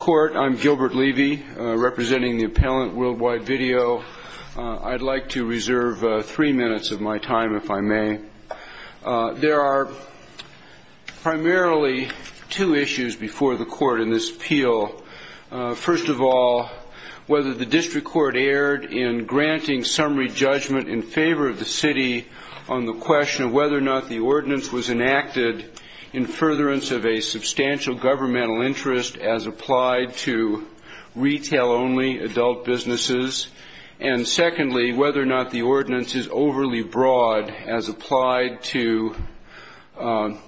I'm Gilbert Levy, representing the appellant World Wide Video. I'd like to reserve three minutes of my time, if I may. There are primarily two issues before the court in this appeal. First of all, whether the district court erred in granting summary judgment in favor of the city on the question of whether or not the ordinance was enacted in furtherance of a right to retail-only adult businesses, and secondly, whether or not the ordinance is overly broad as applied to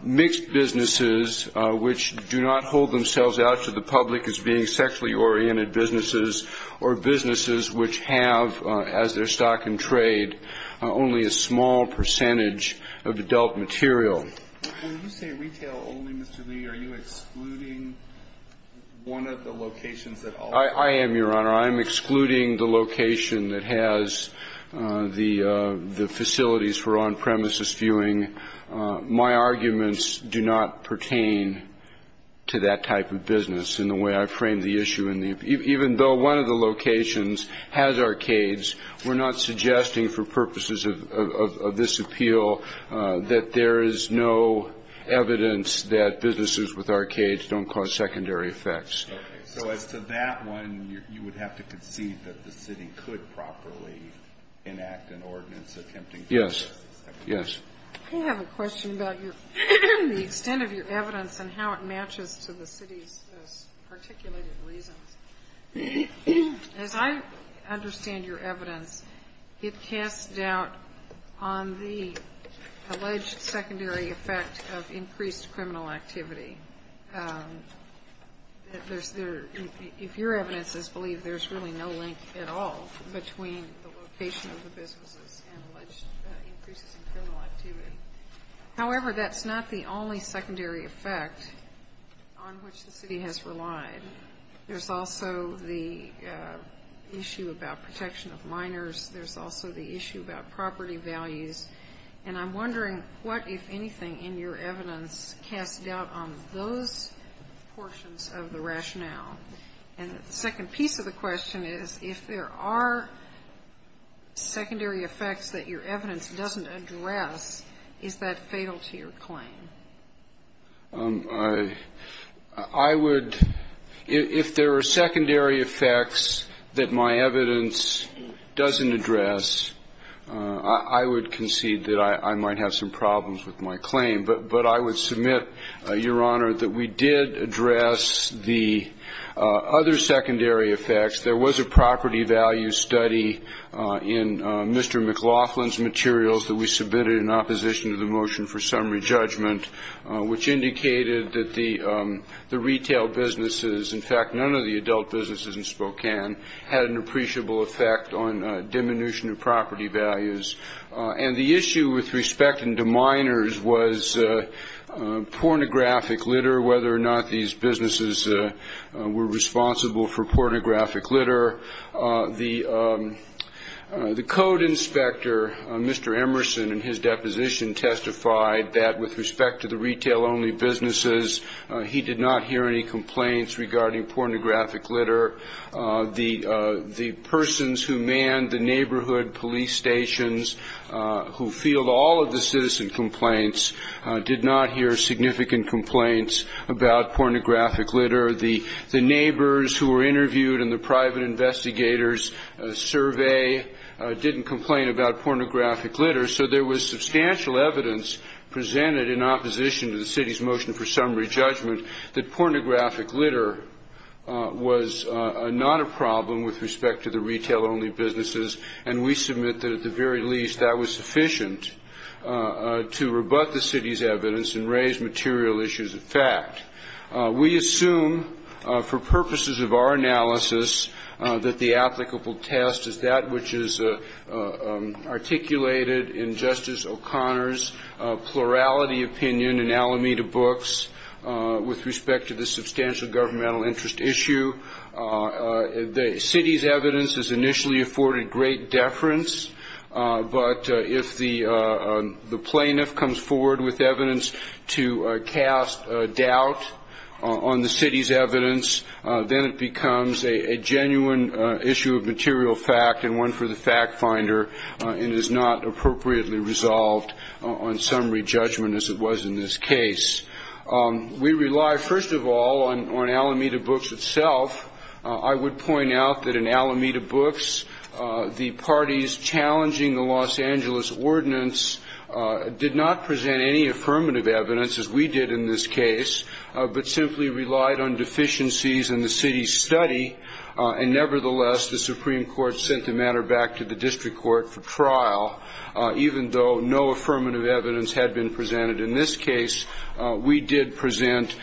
mixed businesses which do not hold themselves out to the public as being sexually oriented businesses or businesses which have, as their stock and trade, only a small percentage of adult material. When you say retail-only, Mr. Levy, are you excluding one of the locations at all? I am, Your Honor. I am excluding the location that has the facilities for on-premises viewing. My arguments do not pertain to that type of business in the way I framed the issue. Even though one of the locations has arcades, we're not suggesting for purposes of this appeal that there is no need for a retail-only location. There is no evidence that businesses with arcades don't cause secondary effects. Okay. So as to that one, you would have to concede that the city could properly enact an ordinance attempting to cause secondary effects. Yes. Yes. I have a question about the extent of your evidence and how it matches to the city's particulated reasons. As I understand your evidence, it casts doubt on the alleged secondary effect of increased criminal activity. If your evidence is believed, there's really no link at all between the location of the businesses and alleged increases in criminal activity. However, that's not the only secondary effect on which the city has relied. There's also the issue about protection of minors. There's also the issue about property values. And I'm wondering what, if anything, in your evidence casts doubt on those portions of the rationale. And the second piece of the question is, if there are secondary effects that your evidence doesn't address, is that fatal to your claim? I would — if there are secondary effects that my evidence doesn't address, I would concede that I might have some problems with my claim. But I would submit, Your Honor, that we did address the other secondary effects. There was a property value study in Mr. McLaughlin's materials that we submitted in opposition to the motion for summary judgment, which indicated that the retail businesses, in fact, none of the adult businesses, were responsible for property values. And the issue with respect to minors was pornographic litter, whether or not these businesses were responsible for pornographic litter. The code inspector, Mr. Emerson, in his deposition testified that with respect to the retail-only businesses, he did not hear any complaints regarding pornographic litter. The persons who manned the neighborhood police stations who field all of the citizen complaints did not hear significant complaints about pornographic litter. The neighbors who were interviewed in the private investigators survey didn't complain about pornographic litter. So there was substantial evidence presented in opposition to the city's motion for summary judgment that pornographic litter was not a problem with respect to the retail-only businesses. And we submit that, at the very least, that was sufficient to rebut the city's evidence and raise material issues of fact. We assume, for purposes of our analysis, that the applicable test is that which is articulated in Justice O'Connor's plurality opinion in Alameda Books with respect to the substantial governmental interest issue. The city's evidence has initially afforded great deference, but if the plaintiff comes forward with evidence to cast doubt on the city's evidence, then it becomes a genuine issue of material fact and one for the fact-finder and is not appropriately resolved on summary judgment, as it was in this case. We rely, first of all, on Alameda Books itself. I would point out that in Alameda Books, the parties challenging the Los Angeles Ordinance did not present any affirmative evidence, as we did in this case, but simply relied on deficiencies in the city's study. And nevertheless, the Supreme Court sent the matter back to the district court for review, and in this case, we did present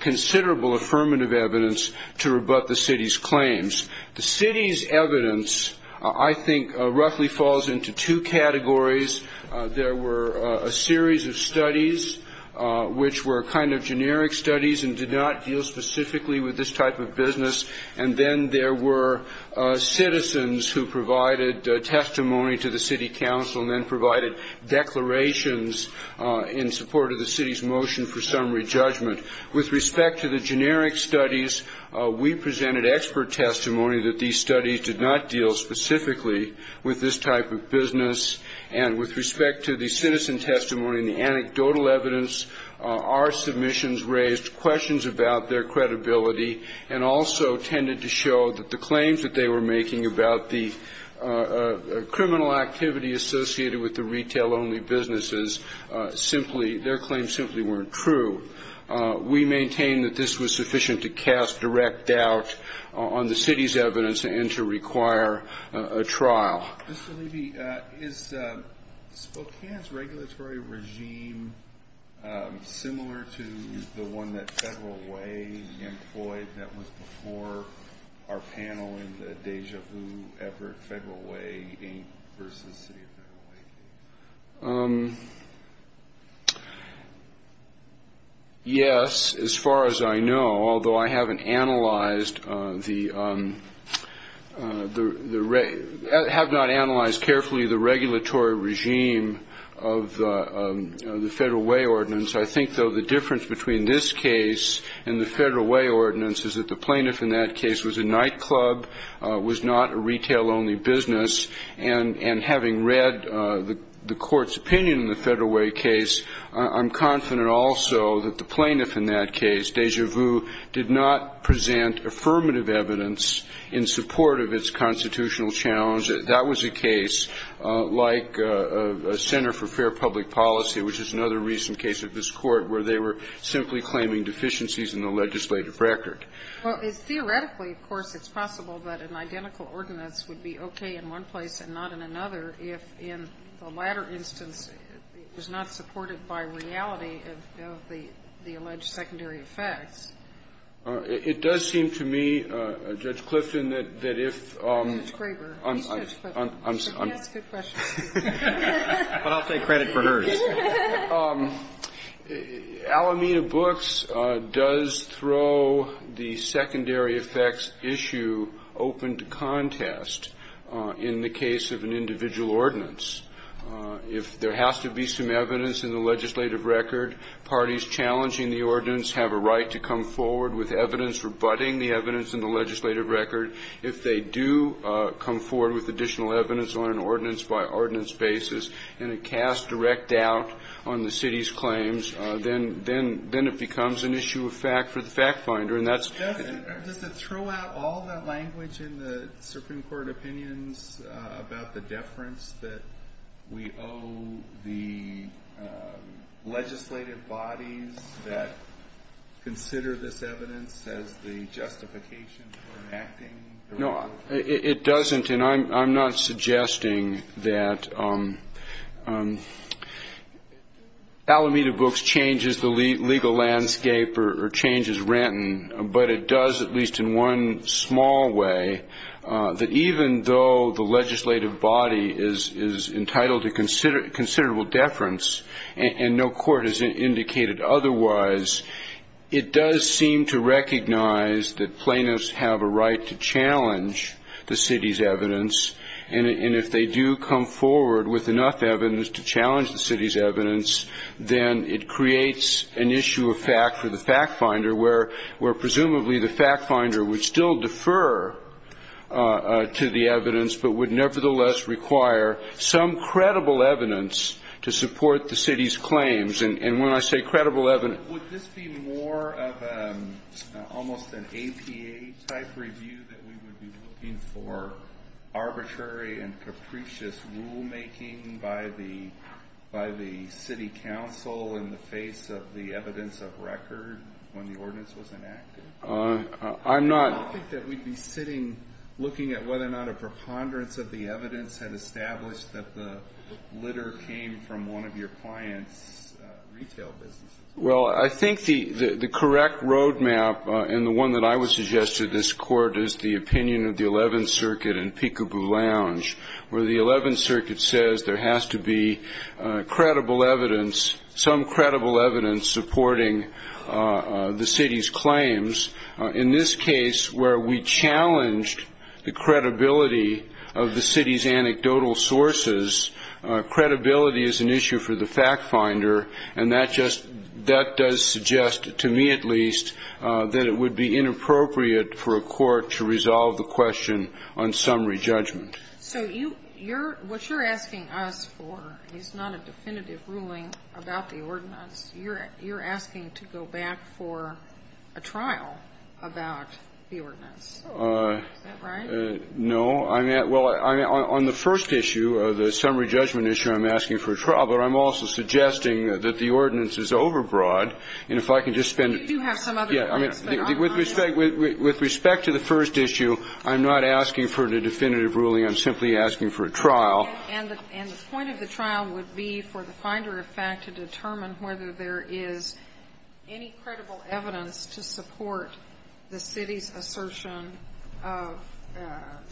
considerable affirmative evidence to rebut the city's claims. The city's evidence, I think, roughly falls into two categories. There were a series of studies which were kind of generic studies and did not deal specifically with this type of business, and then there were citizens who provided testimony to the city council and then provided declarations in support of the city's motion for summary judgment. With respect to the generic studies, we presented expert testimony that these studies did not deal specifically with this type of business, and with respect to the citizen testimony and the anecdotal evidence, our submissions raised questions about their credibility and also tended to show that the claims that they were only businesses simply, their claims simply weren't true. We maintain that this was sufficient to cast direct doubt on the city's evidence and to require a trial. Mr. Levy, is Spokane's regulatory regime similar to the one that Federal Way employed that was before our panel in the Deja Vu effort, Federal Way Inc. versus City of Federal Way Inc.? Mr. Levy Yes, as far as I know, although I haven't analyzed the, have not analyzed carefully the regulatory regime of the Federal Way Ordinance. I think, though, the difference between this case and the Federal Way Ordinance is that the plaintiff in that case was a nightclub, was not a retail-only business, and having read the Court's opinion in the Federal Way case, I'm confident also that the plaintiff in that case, Deja Vu, did not present affirmative evidence in support of its constitutional challenge. That was a case like Center for Fair Public Policy, which is another recent case of this Court, where they were simply claiming deficiencies in the legislative record. Well, it's theoretically, of course, it's possible that an identical ordinance would be okay in one place and not in another if, in the latter instance, it was not supported by reality of the alleged secondary effects. It does seem to me, Judge Clifton, that if... Judge Graber. But I'll take credit for hers. Alameda Books does throw the secondary effects issue open to contest in the case of an individual ordinance. If there has to be some evidence in the legislative record, parties challenging the ordinance have a right to come forward with evidence rebutting the evidence in the legislative record. If they do come forward with additional evidence on an ordinance-by-ordinance basis and it casts direct doubt on the city's claims, then it becomes an issue of fact for the FactFinder. And that's... Does it throw out all the language in the Supreme Court opinions about the deference that we owe the legislative bodies that consider this evidence as the justification for enacting the rule? No, it doesn't, and I'm not suggesting that Alameda Books changes the legal landscape or changes Renton. But it does, at least in one small way, that even though the legislative body is entitled to considerable deference and no court has indicated otherwise, it does seem to recognize that plaintiffs have a right to challenge the city's evidence. And if they do come forward with enough evidence to challenge the city's evidence, then it creates an issue of fact for the FactFinder, where presumably the FactFinder would still defer to the evidence but would nevertheless require some credible evidence to support the city's claims. And when I say credible evidence... So would this be more of almost an APA-type review, that we would be looking for arbitrary and capricious rulemaking by the city council in the face of the evidence of record when the ordinance was enacted? I'm not... I don't think that we'd be sitting looking at whether or not a preponderance of the evidence had established that the litter came from one of your clients' retail businesses. Well, I think the correct roadmap and the one that I would suggest to this Court is the opinion of the Eleventh Circuit in Peekaboo Lounge, where the Eleventh Circuit says there has to be credible evidence, some credible evidence supporting the city's claims. In this case, we're challenging the credibility of the city's anecdotal sources. Credibility is an issue for the FactFinder, and that just, that does suggest, to me at least, that it would be inappropriate for a court to resolve the question on summary judgment. So you're, what you're asking us for is not a definitive ruling about the ordinance. You're asking to go back for a trial about the ordinance. Is that right? No. I'm at, well, on the first issue, the summary judgment issue, I'm asking for a trial. But I'm also suggesting that the ordinance is overbroad, and if I can just spend a... But you do have some other... Yeah. I mean, with respect to the first issue, I'm not asking for a definitive ruling. I'm simply asking for a trial. And the point of the trial would be for the Finder effect to determine whether there is any credible evidence to support the city's assertion of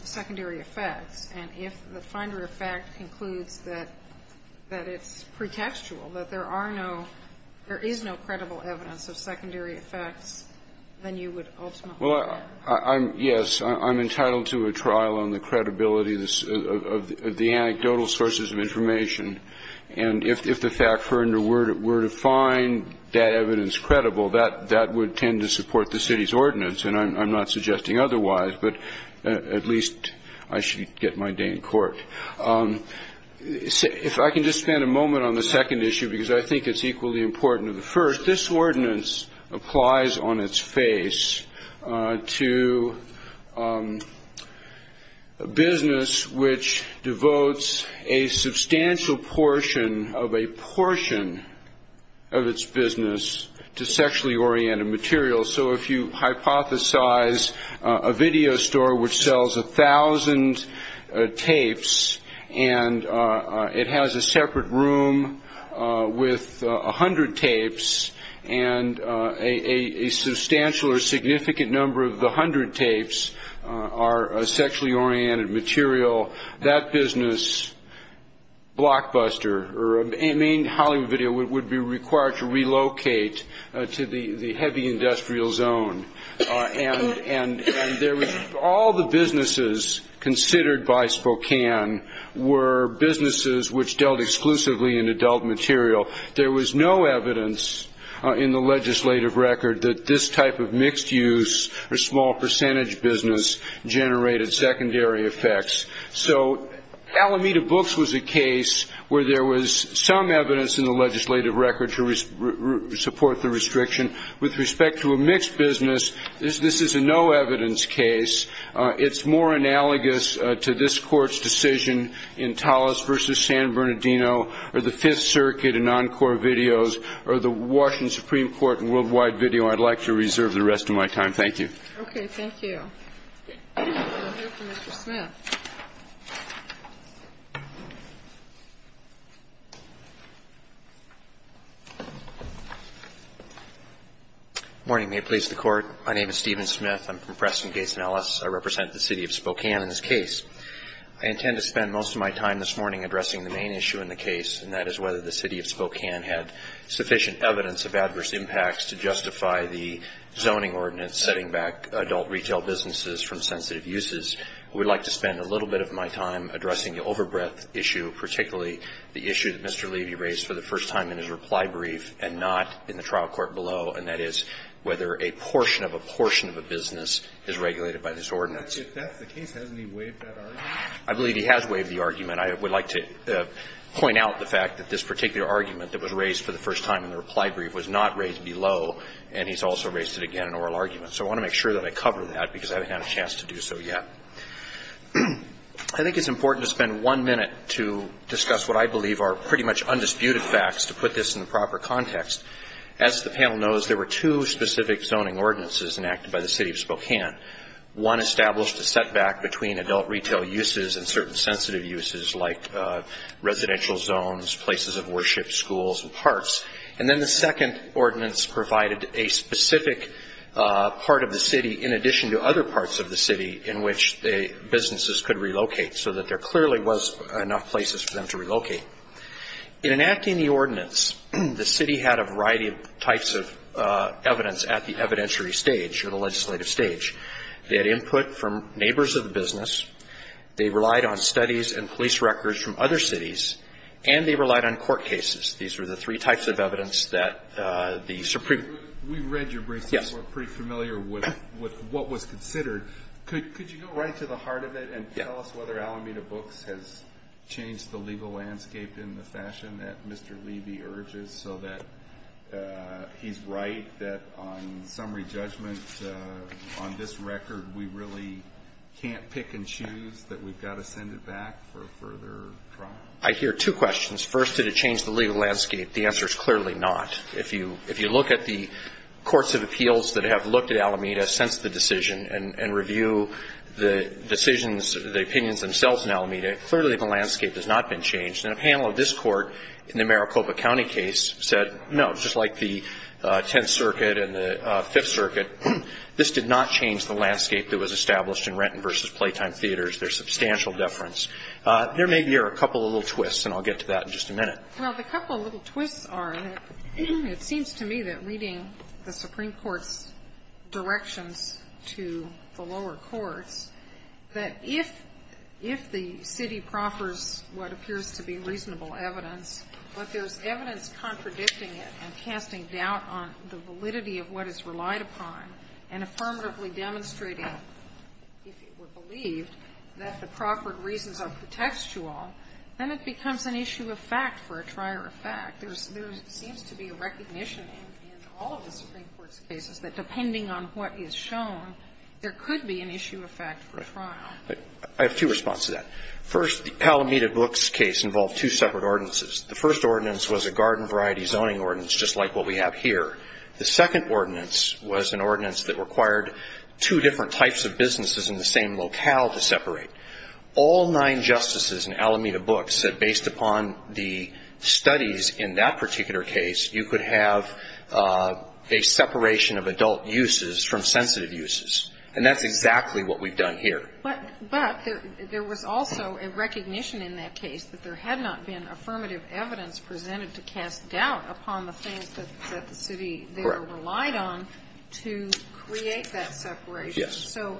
secondary effects. And if the Finder effect concludes that it's pretextual, that there are no, there is no credible evidence of secondary effects, then you would ultimately... Well, I'm, yes, I'm entitled to a trial on the credibility of the anecdotal sources of information. And if the fact were to find that evidence credible, that would tend to support the city's ordinance. And I'm not suggesting otherwise, but at least I should get my day in court. If I can just spend a moment on the second issue, because I think it's equally important to the first. This ordinance applies on its face to a business which devotes a substantial portion of a portion of its business to sexually oriented materials. So if you hypothesize a video store which sells a thousand tapes and it has a separate room with a hundred tapes and a substantial or significant number of the hundred tapes are sexually oriented material, that business blockbuster or a main Hollywood video would be required to relocate to the heavy industrial zone. And all the businesses considered by Spokane were businesses which dealt exclusively in adult material. There was no evidence in the legislative record that this type of mixed use or small percentage business generated secondary effects. So Alameda Books was a case where there was some evidence in the legislative record to support the restriction. With respect to a mixed business, this is a no evidence case. It's more analogous to this Court's decision in Tallis v. San Bernardino or the Fifth Circuit in Encore Videos or the Washington Supreme Court in Worldwide Video. I'd like to reserve the rest of my time. Thank you. Okay. Thank you. We'll hear from Mr. Smith. Good morning. May it please the Court. My name is Stephen Smith. I'm from Preston Case in Ellis. I represent the City of Spokane in this case. I intend to spend most of my time this morning addressing the main issue in the case and that is whether the City of Spokane had sufficient evidence of adverse impacts to justify the zoning ordinance setting back adult retail businesses from sensitive uses. I would like to spend a little bit of my time addressing the overbreadth issue, particularly the issue that Mr. Levy raised for the first time in his reply brief and not in the trial court below, and that is whether a portion of a portion of a business is regulated by this ordinance. If that's the case, hasn't he waived that argument? I believe he has waived the argument. I would like to point out the fact that this particular argument that was raised for the first time in the reply brief was not raised below, and he's also raised it again in oral argument. So I want to make sure that I cover that because I haven't had a chance to do so yet. I think it's important to spend one minute to discuss what I believe are pretty much undisputed facts to put this in the proper context. As the panel knows, there were two specific zoning ordinances enacted by the City of Spokane. One established a setback between adult retail uses and certain sensitive uses like residential zones, places of worship, schools, and parks, and then the second ordinance provided a specific part of the city in addition to other parts of the city in which businesses could relocate so that there clearly was enough places for them to relocate. In enacting the ordinance, the city had a variety of types of evidence at the evidentiary stage or the legislative stage. They had input from neighbors of the neighborhood, and they relied on court cases. These were the three types of evidence that the Supreme Court ---- We've read your briefs. Yes. We're pretty familiar with what was considered. Could you go right to the heart of it and tell us whether Alameda Books has changed the legal landscape in the fashion that Mr. Levy urges so that he's right that on summary judgment on this record, we really can't pick and choose that we've got to send it back for further trial? I hear two questions. First, did it change the legal landscape? The answer is clearly not. If you look at the courts of appeals that have looked at Alameda since the decision and review the decisions, the opinions themselves in Alameda, clearly the landscape has not been changed. And a panel of this court in the Maricopa County case said, no, just like the Tenth Circuit and the Fifth Circuit, this did not change the landscape that was established in Renton v. Playtime Theaters. There's substantial deference. There may be a couple of little twists, and I'll get to that in just a minute. Well, the couple of little twists are that it seems to me that reading the Supreme Court's directions to the lower courts, that if the city proffers what appears to be reasonable evidence, but there's evidence contradicting it and casting doubt on the validity of what is relied upon, and affirmatively demonstrating, if it were believed, that the proffered reasons are contextual, then it becomes an issue of fact for a trial or a fact. There's seems to be a recognition in all of the Supreme Court's cases that depending on what is shown, there could be an issue of fact for a trial. I have two responses to that. First, the Alameda Books case involved two separate ordinances. The first ordinance was a garden variety zoning ordinance, just like what we have here. The second ordinance was an ordinance that required two different types of businesses in the same locale to separate. All nine justices in Alameda Books said based upon the studies in that particular case, you could have a separation of adult uses from sensitive uses. And that's exactly what we've done here. But there was also a recognition in that case that there had not been affirmative evidence presented to cast doubt upon the things that the city relied on to create that separation. Yes. So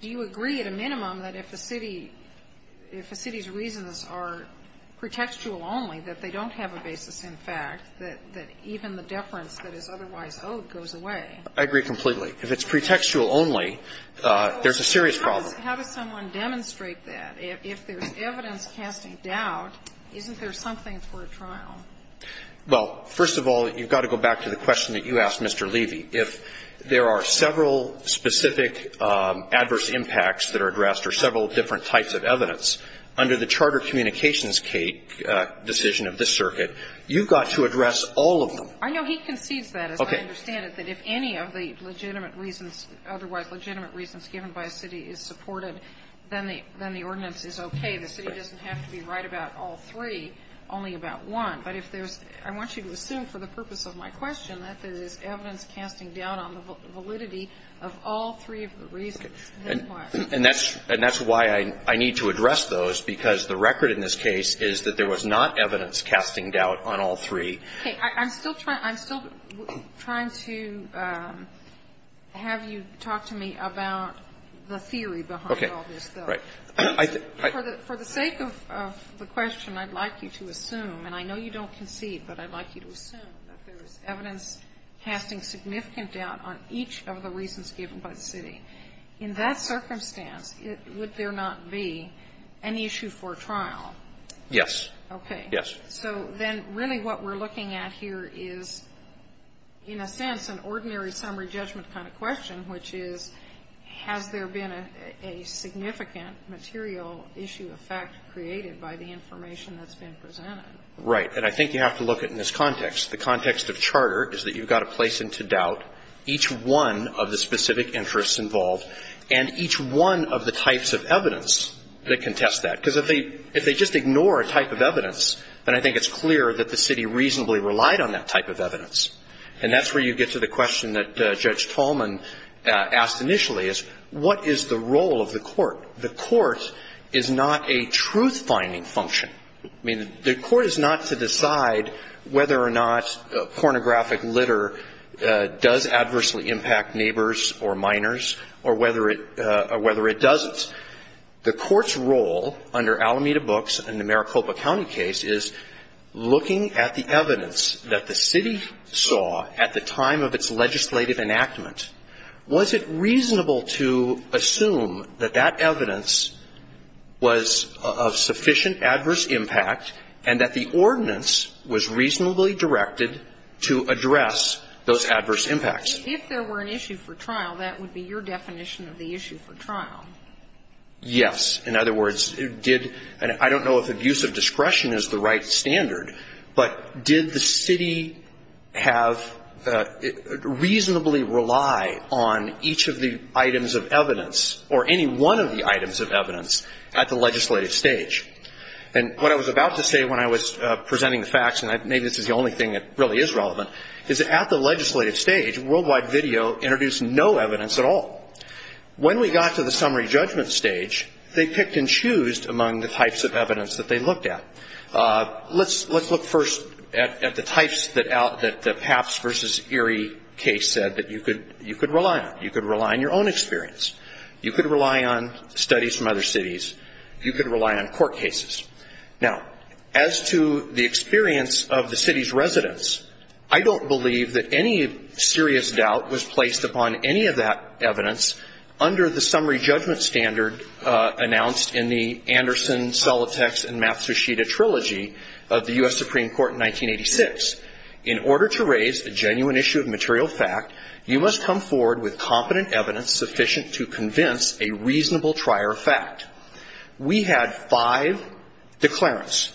do you agree at a minimum that if a city's reasons are pretextual only, that they don't have a basis in fact, that even the deference that is otherwise owed goes away? I agree completely. If it's pretextual only, there's a serious problem. How does someone demonstrate that? If there's evidence casting doubt, isn't there something for a trial? Well, first of all, you've got to go back to the question that you asked, Mr. Levy. If there are several specific adverse impacts that are addressed or several different types of evidence, under the Charter Communications Decision of this circuit, you've got to address all of them. I know he concedes that, as I understand it. Okay. And I think that if any of the legitimate reasons, otherwise legitimate reasons given by a city is supported, then the ordinance is okay. The city doesn't have to be right about all three, only about one. But if there's – I want you to assume for the purpose of my question that there is evidence casting doubt on the validity of all three of the reasons. And that's why I need to address those, because the record in this case is that there was not evidence casting doubt on all three. Okay. I'm still trying to have you talk to me about the theory behind all this, though. Okay. Right. For the sake of the question, I'd like you to assume, and I know you don't concede, but I'd like you to assume that there is evidence casting significant doubt on each of the reasons given by the city. In that circumstance, would there not be an issue for a trial? Yes. Okay. Yes. So then really what we're looking at here is, in a sense, an ordinary summary judgment kind of question, which is, has there been a significant material issue of fact created by the information that's been presented? Right. And I think you have to look at it in this context. The context of charter is that you've got to place into doubt each one of the specific interests involved and each one of the types of evidence that contest that. Because if they just ignore a type of evidence, then I think it's clear that the city reasonably relied on that type of evidence. And that's where you get to the question that Judge Tallman asked initially is, what is the role of the court? The court is not a truth-finding function. I mean, the court is not to decide whether or not pornographic litter does adversely impact neighbors or minors or whether it doesn't. The court's role under Alameda Books and the Maricopa County case is looking at the evidence that the city saw at the time of its legislative enactment. Was it reasonable to assume that that evidence was of sufficient adverse impact and that the ordinance was reasonably directed to address those adverse impacts? If there were an issue for trial, that would be your definition of the issue for trial. Yes. In other words, I don't know if abusive discretion is the right standard, but did the city reasonably rely on each of the items of evidence or any one of the items of evidence at the legislative stage? And what I was about to say when I was presenting the facts, and maybe this is the only thing that really is relevant, is that at the legislative stage, worldwide video introduced no evidence at all. When we got to the summary judgment stage, they picked and chose among the types of evidence that they looked at. Let's look first at the types that the Papps v. Erie case said that you could rely on. You could rely on your own experience. You could rely on studies from other cities. You could rely on court cases. Now, as to the experience of the city's residents, I don't believe that any serious doubt was placed upon any of that evidence under the summary judgment standard announced in the Anderson, Solitex, and Matsushita trilogy of the U.S. Supreme Court in 1986. In order to raise a genuine issue of material fact, you must come forward with competent evidence sufficient to convince a reasonable trier of fact. We had five declarants.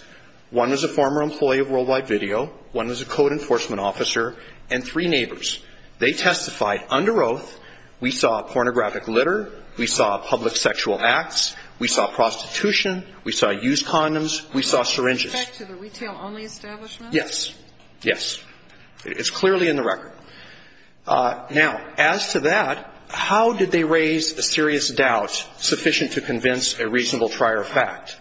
One was a former employee of worldwide video. One was a code enforcement officer. And three neighbors. They testified under oath. We saw pornographic litter. We saw public sexual acts. We saw prostitution. We saw used condoms. We saw syringes. Back to the retail-only establishment? Yes. Yes. It's clearly in the record. Now, as to that, how did they raise a serious doubt sufficient to convince a reasonable trier of fact?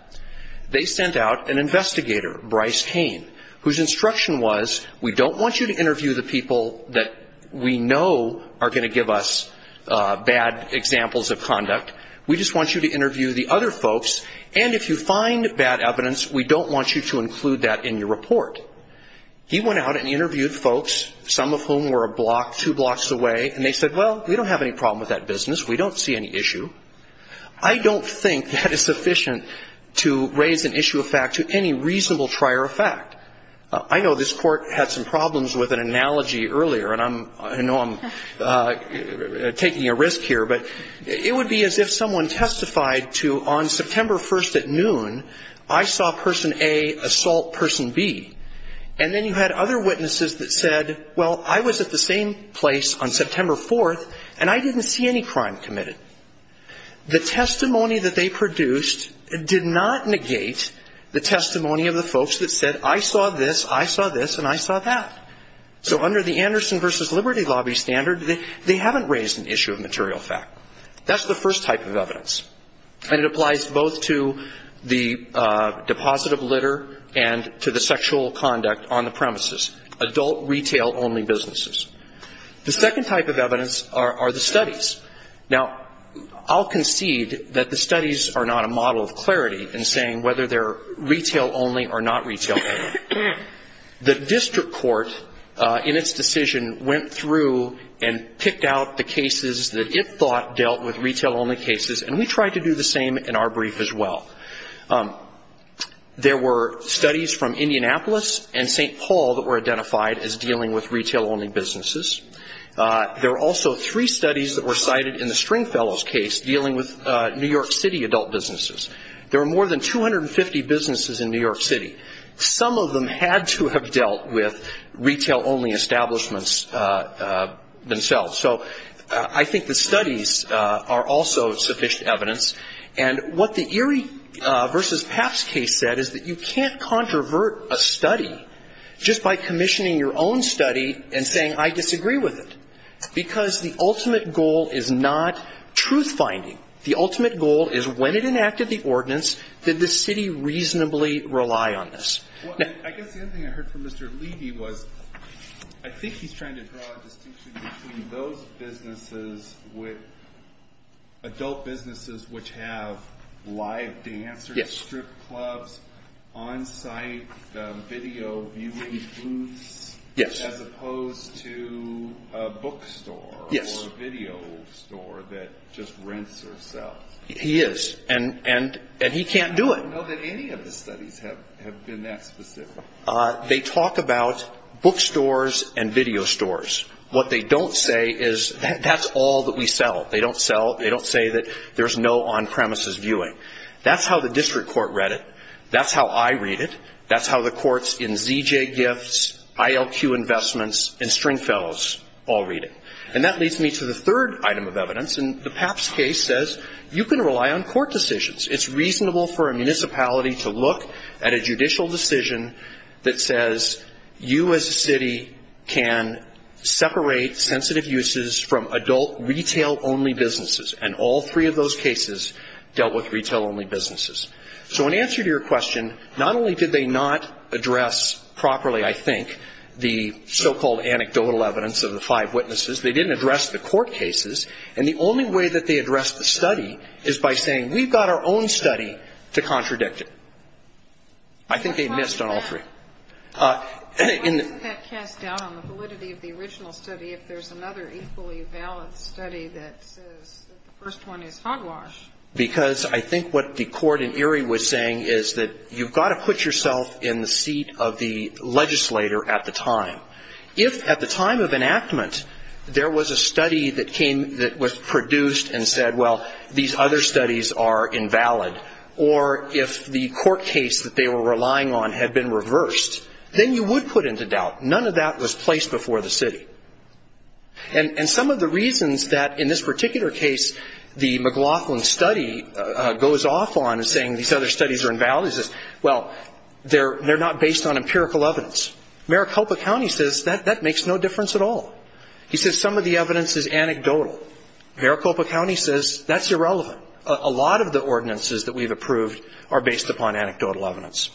They sent out an investigator, Bryce Kane, whose instruction was, we don't want you to interview the people that we know are going to give us bad examples of conduct. We just want you to interview the other folks. And if you find bad evidence, we don't want you to include that in your report. He went out and interviewed folks, some of whom were a block, two blocks away, and they said, well, we don't have any problem with that business. We don't see any issue. I don't think that is sufficient to raise an issue of fact to any reasonable trier of fact. I know this Court had some problems with an analogy earlier, and I know I'm taking a risk here, but it would be as if someone testified to, on September 1st at noon, I saw person A assault person B, and then you had other witnesses that said, well, I was at the same place on September 4th, and I didn't see any crime committed. The testimony that they produced did not negate the testimony of the folks that said, I saw this, I saw this, and I saw that. So under the Anderson versus Liberty Lobby standard, they haven't raised an issue of material fact. That's the first type of evidence, and it applies both to the deposit of litter and to the sexual conduct on the premises, adult retail-only businesses. The second type of evidence are the studies. Now, I'll concede that the studies are not a model of clarity in saying whether they're retail-only or not retail-only. The district court, in its decision, went through and picked out the cases that it thought dealt with retail-only cases, and we tried to do the same in our brief as well. There were studies from Indianapolis and St. Paul that were identified as dealing with retail-only businesses. There were also three studies that were cited in the Stringfellow's case dealing with New York City adult businesses. There were more than 250 businesses in New York City. Some of them had to have dealt with retail-only establishments themselves. So I think the studies are also sufficient evidence, and what the Erie versus Papps case said is that you can't controvert a study just by commissioning your own study and saying, I disagree with it, because the ultimate goal is not truth-finding. The ultimate goal is when it enacted the ordinance, did the city reasonably rely on this? Well, I guess the other thing I heard from Mr. Levy was I think he's trying to draw a distinction between those businesses with adult businesses which have live dancers, strip clubs, on-site video viewing booths, as opposed to a bookstore or a video store that just rents or sells. He is, and he can't do it. I don't know that any of the studies have been that specific. They talk about bookstores and video stores. What they don't say is that's all that we sell. They don't say that there's no on-premises viewing. That's how the district court read it. That's how I read it. That's how the courts in ZJ Gifts, ILQ Investments, and Stringfellows all read it. And that leads me to the third item of evidence, and the Papps case says you can rely on court decisions. It's reasonable for a municipality to look at a judicial decision that says you as a city can separate sensitive uses from adult retail-only businesses, and all three of those cases dealt with retail-only businesses. So in answer to your question, not only did they not address properly, I think, the so-called anecdotal evidence of the five witnesses, they didn't address the court cases, and the only way that they addressed the study is by saying we've got our own study to contradict it. I think they missed on all three. Why isn't that cast doubt on the validity of the original study if there's another equally valid study that says the first one is hogwash? Because I think what the court in Erie was saying is that you've got to put yourself in the seat of the legislator at the time. If at the time of enactment there was a study that came that was produced and said, well, these other studies are invalid, or if the court case that they were relying on had been reversed, then you would put into doubt. None of that was placed before the city. And some of the reasons that in this particular case the McLaughlin study goes off on and saying these other studies are invalid is, well, they're not based on empirical evidence. Maricopa County says that makes no difference at all. He says some of the evidence is anecdotal. Maricopa County says that's irrelevant. A lot of the ordinances that we've approved are based upon anecdotal evidence.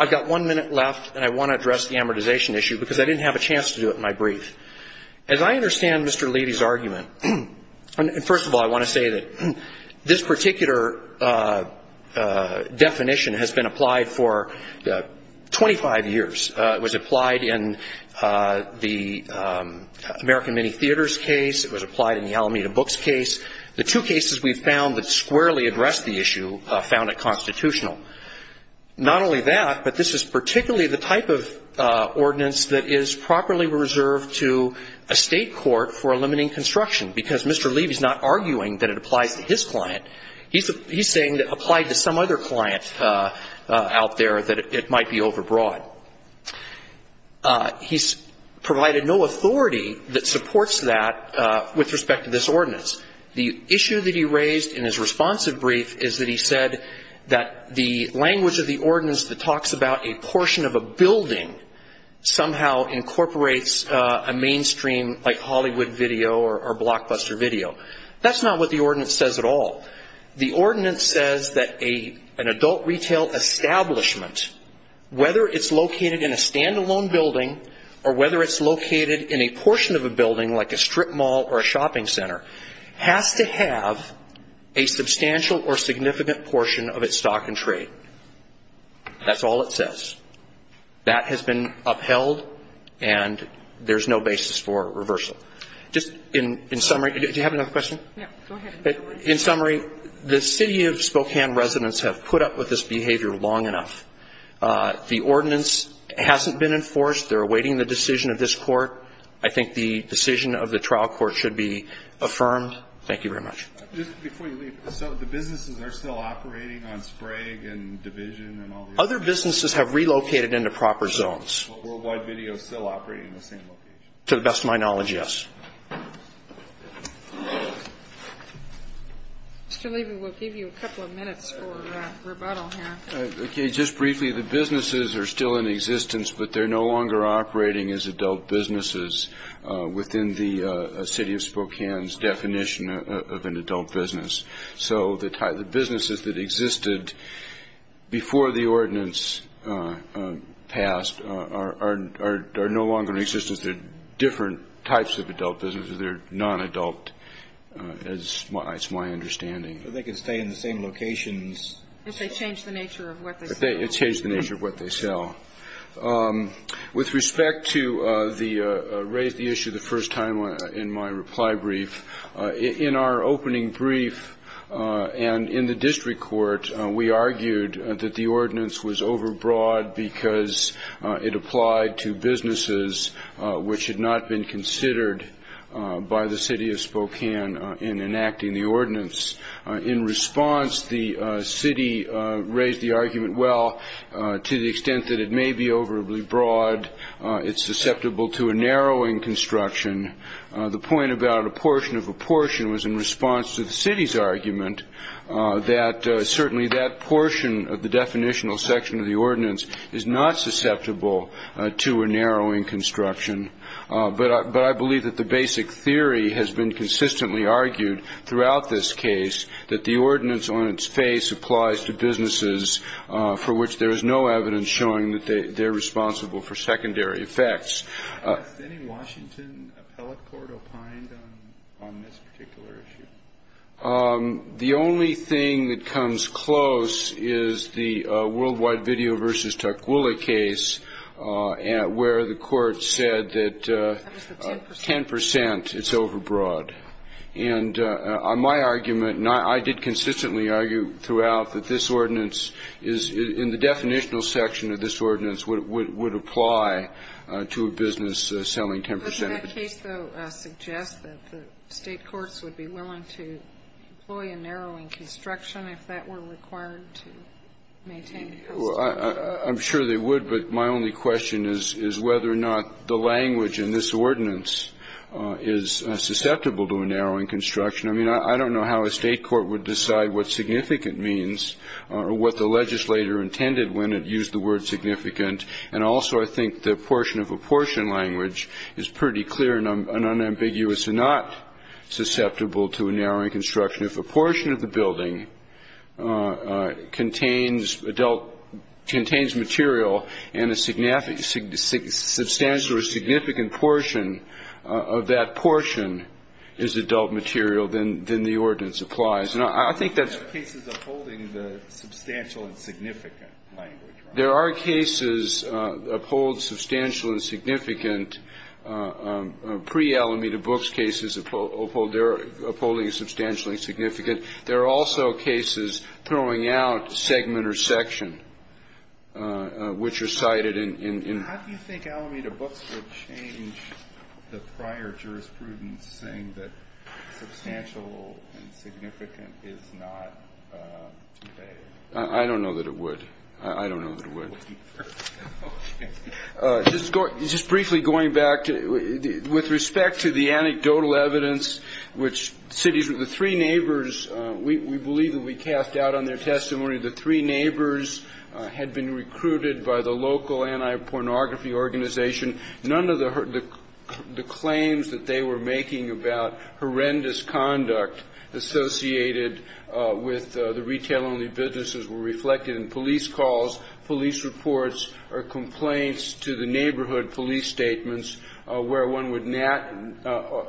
I've got one minute left, and I want to address the amortization issue because I didn't have a chance to do it in my brief. As I understand Mr. Leidy's argument, first of all, I want to say that this particular definition has been applied for 25 years. It was applied in the American Mini Theaters case. It was applied in the Alameda Books case. The two cases we've found that squarely address the issue found it constitutional. Not only that, but this is particularly the type of ordinance that is properly reserved to a state court for eliminating construction, because Mr. Leidy's not arguing that it applies to his client. He's saying it applied to some other client out there that it might be overbroad. He's provided no authority that supports that with respect to this ordinance. The issue that he raised in his responsive brief is that he said that the language of the ordinance that talks about a portion of a building somehow incorporates a mainstream like Hollywood video or blockbuster video. That's not what the ordinance says at all. The ordinance says that an adult retail establishment, whether it's located in a stand-alone building or whether it's located in a portion of a building like a strip mall or a shopping center, has to have a substantial or significant portion of its stock and trade. That's all it says. That has been upheld and there's no basis for reversal. Just in summary, do you have another question? Go ahead. In summary, the city of Spokane residents have put up with this behavior long enough. The ordinance hasn't been enforced. They're awaiting the decision of this court. I think the decision of the trial court should be affirmed. Thank you very much. Just before you leave, so the businesses are still operating on Sprague and Division and all the others? Other businesses have relocated into proper zones. But Worldwide Video is still operating in the same location? To the best of my knowledge, yes. Mr. Levy, we'll give you a couple of minutes for rebuttal here. Okay. Just briefly, the businesses are still in existence, but they're no longer operating as adult businesses within the city of Spokane's definition of an adult business. So the businesses that existed before the ordinance passed are no longer in existence. So they're not adult businesses. They're different types of adult businesses. They're non-adult, is my understanding. So they can stay in the same locations? If they change the nature of what they sell. If they change the nature of what they sell. With respect to the raise the issue the first time in my reply brief, in our opening brief and in the district court, we argued that the ordinance was overbroad because it applied to businesses which had not been considered by the city of Spokane in enacting the ordinance. In response, the city raised the argument, well, to the extent that it may be overly broad, it's susceptible to a narrowing construction. The point about a portion of a portion was in response to the city's argument that certainly that portion of the definitional section of the ordinance is not susceptible to a narrowing construction. But I believe that the basic theory has been consistently argued throughout this case, that the ordinance on its face applies to businesses for which there is no evidence showing that they're responsible for secondary effects. Has any Washington appellate court opined on this particular issue? The only thing that comes close is the worldwide video versus Tukwila case where the court said that 10% it's overbroad. And my argument, and I did consistently argue throughout, that this ordinance is in the definitional section of this ordinance would apply to a business selling 10% of it. Doesn't that case, though, suggest that the State courts would be willing to employ a narrowing construction if that were required to maintain custody? I'm sure they would, but my only question is whether or not the language in this ordinance is susceptible to a narrowing construction. I mean, I don't know how a State court would decide what significant means or what the legislator intended when it used the word significant. And also I think the portion of a portion language is pretty clear and unambiguous and not susceptible to a narrowing construction. If a portion of the building contains material and a substantial or significant portion of that portion is adult material, then the ordinance applies. There are cases upholding the substantial and significant language, right? There are also cases throwing out segment or section, which are cited in. How do you think Alameda Books would change the prior jurisprudence saying that substantial and significant is not? I don't know that it would. I don't know that it would. Just briefly going back, with respect to the anecdotal evidence, which cities with the three neighbors, we believe that we cast doubt on their testimony. The three neighbors had been recruited by the local anti-pornography organization. None of the claims that they were making about horrendous conduct associated with the retail-only businesses were reflected in police calls, police reports or complaints to the neighborhood police statements where one would not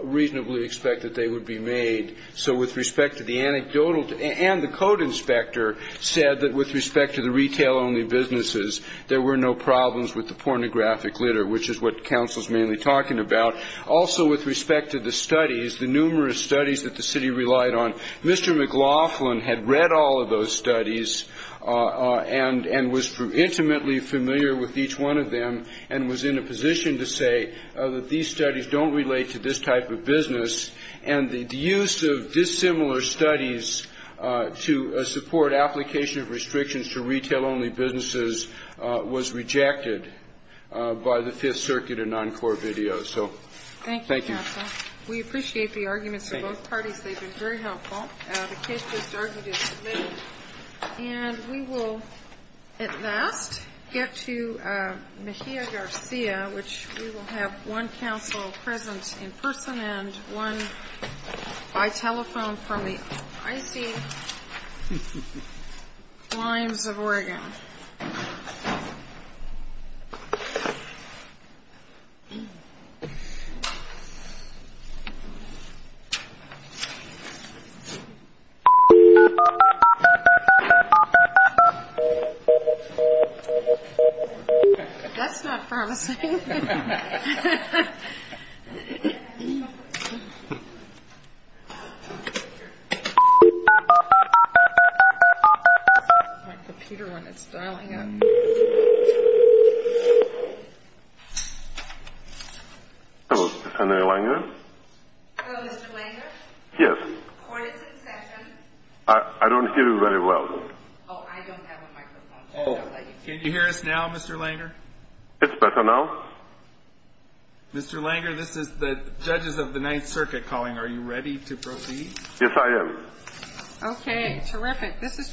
reasonably expect that they would be made. So with respect to the anecdotal and the code inspector said that with respect to the retail-only businesses, there were no problems with the pornographic litter, which is what counsel's mainly talking about. Also, with respect to the studies, the numerous studies that the city relied on, Mr. McLaughlin had read all of those studies and was intimately familiar with each one of them and was in a position to say that these studies don't relate to this type of business. And the use of dissimilar studies to support application of restrictions to retail-only businesses was rejected by the Fifth Circuit in Encore video. So thank you. Thank you, counsel. We appreciate the arguments of both parties. They've been very helpful. The case just argued is submitted. And we will at last get to Mejia Garcia, which we will have one counsel present in person and one by telephone from the icy climes of Oregon. That's not promising. I like the Peter one. It's dialing in. Hello, is this Henry Langer? Hello, Mr. Langer? Yes. Court is in session. I don't hear you very well. Oh, I don't have a microphone. Can you hear us now, Mr. Langer? It's better now. Mr. Langer, this is the judges of the Ninth Circuit calling. Are you ready to proceed? Yes, I am. Okay, terrific.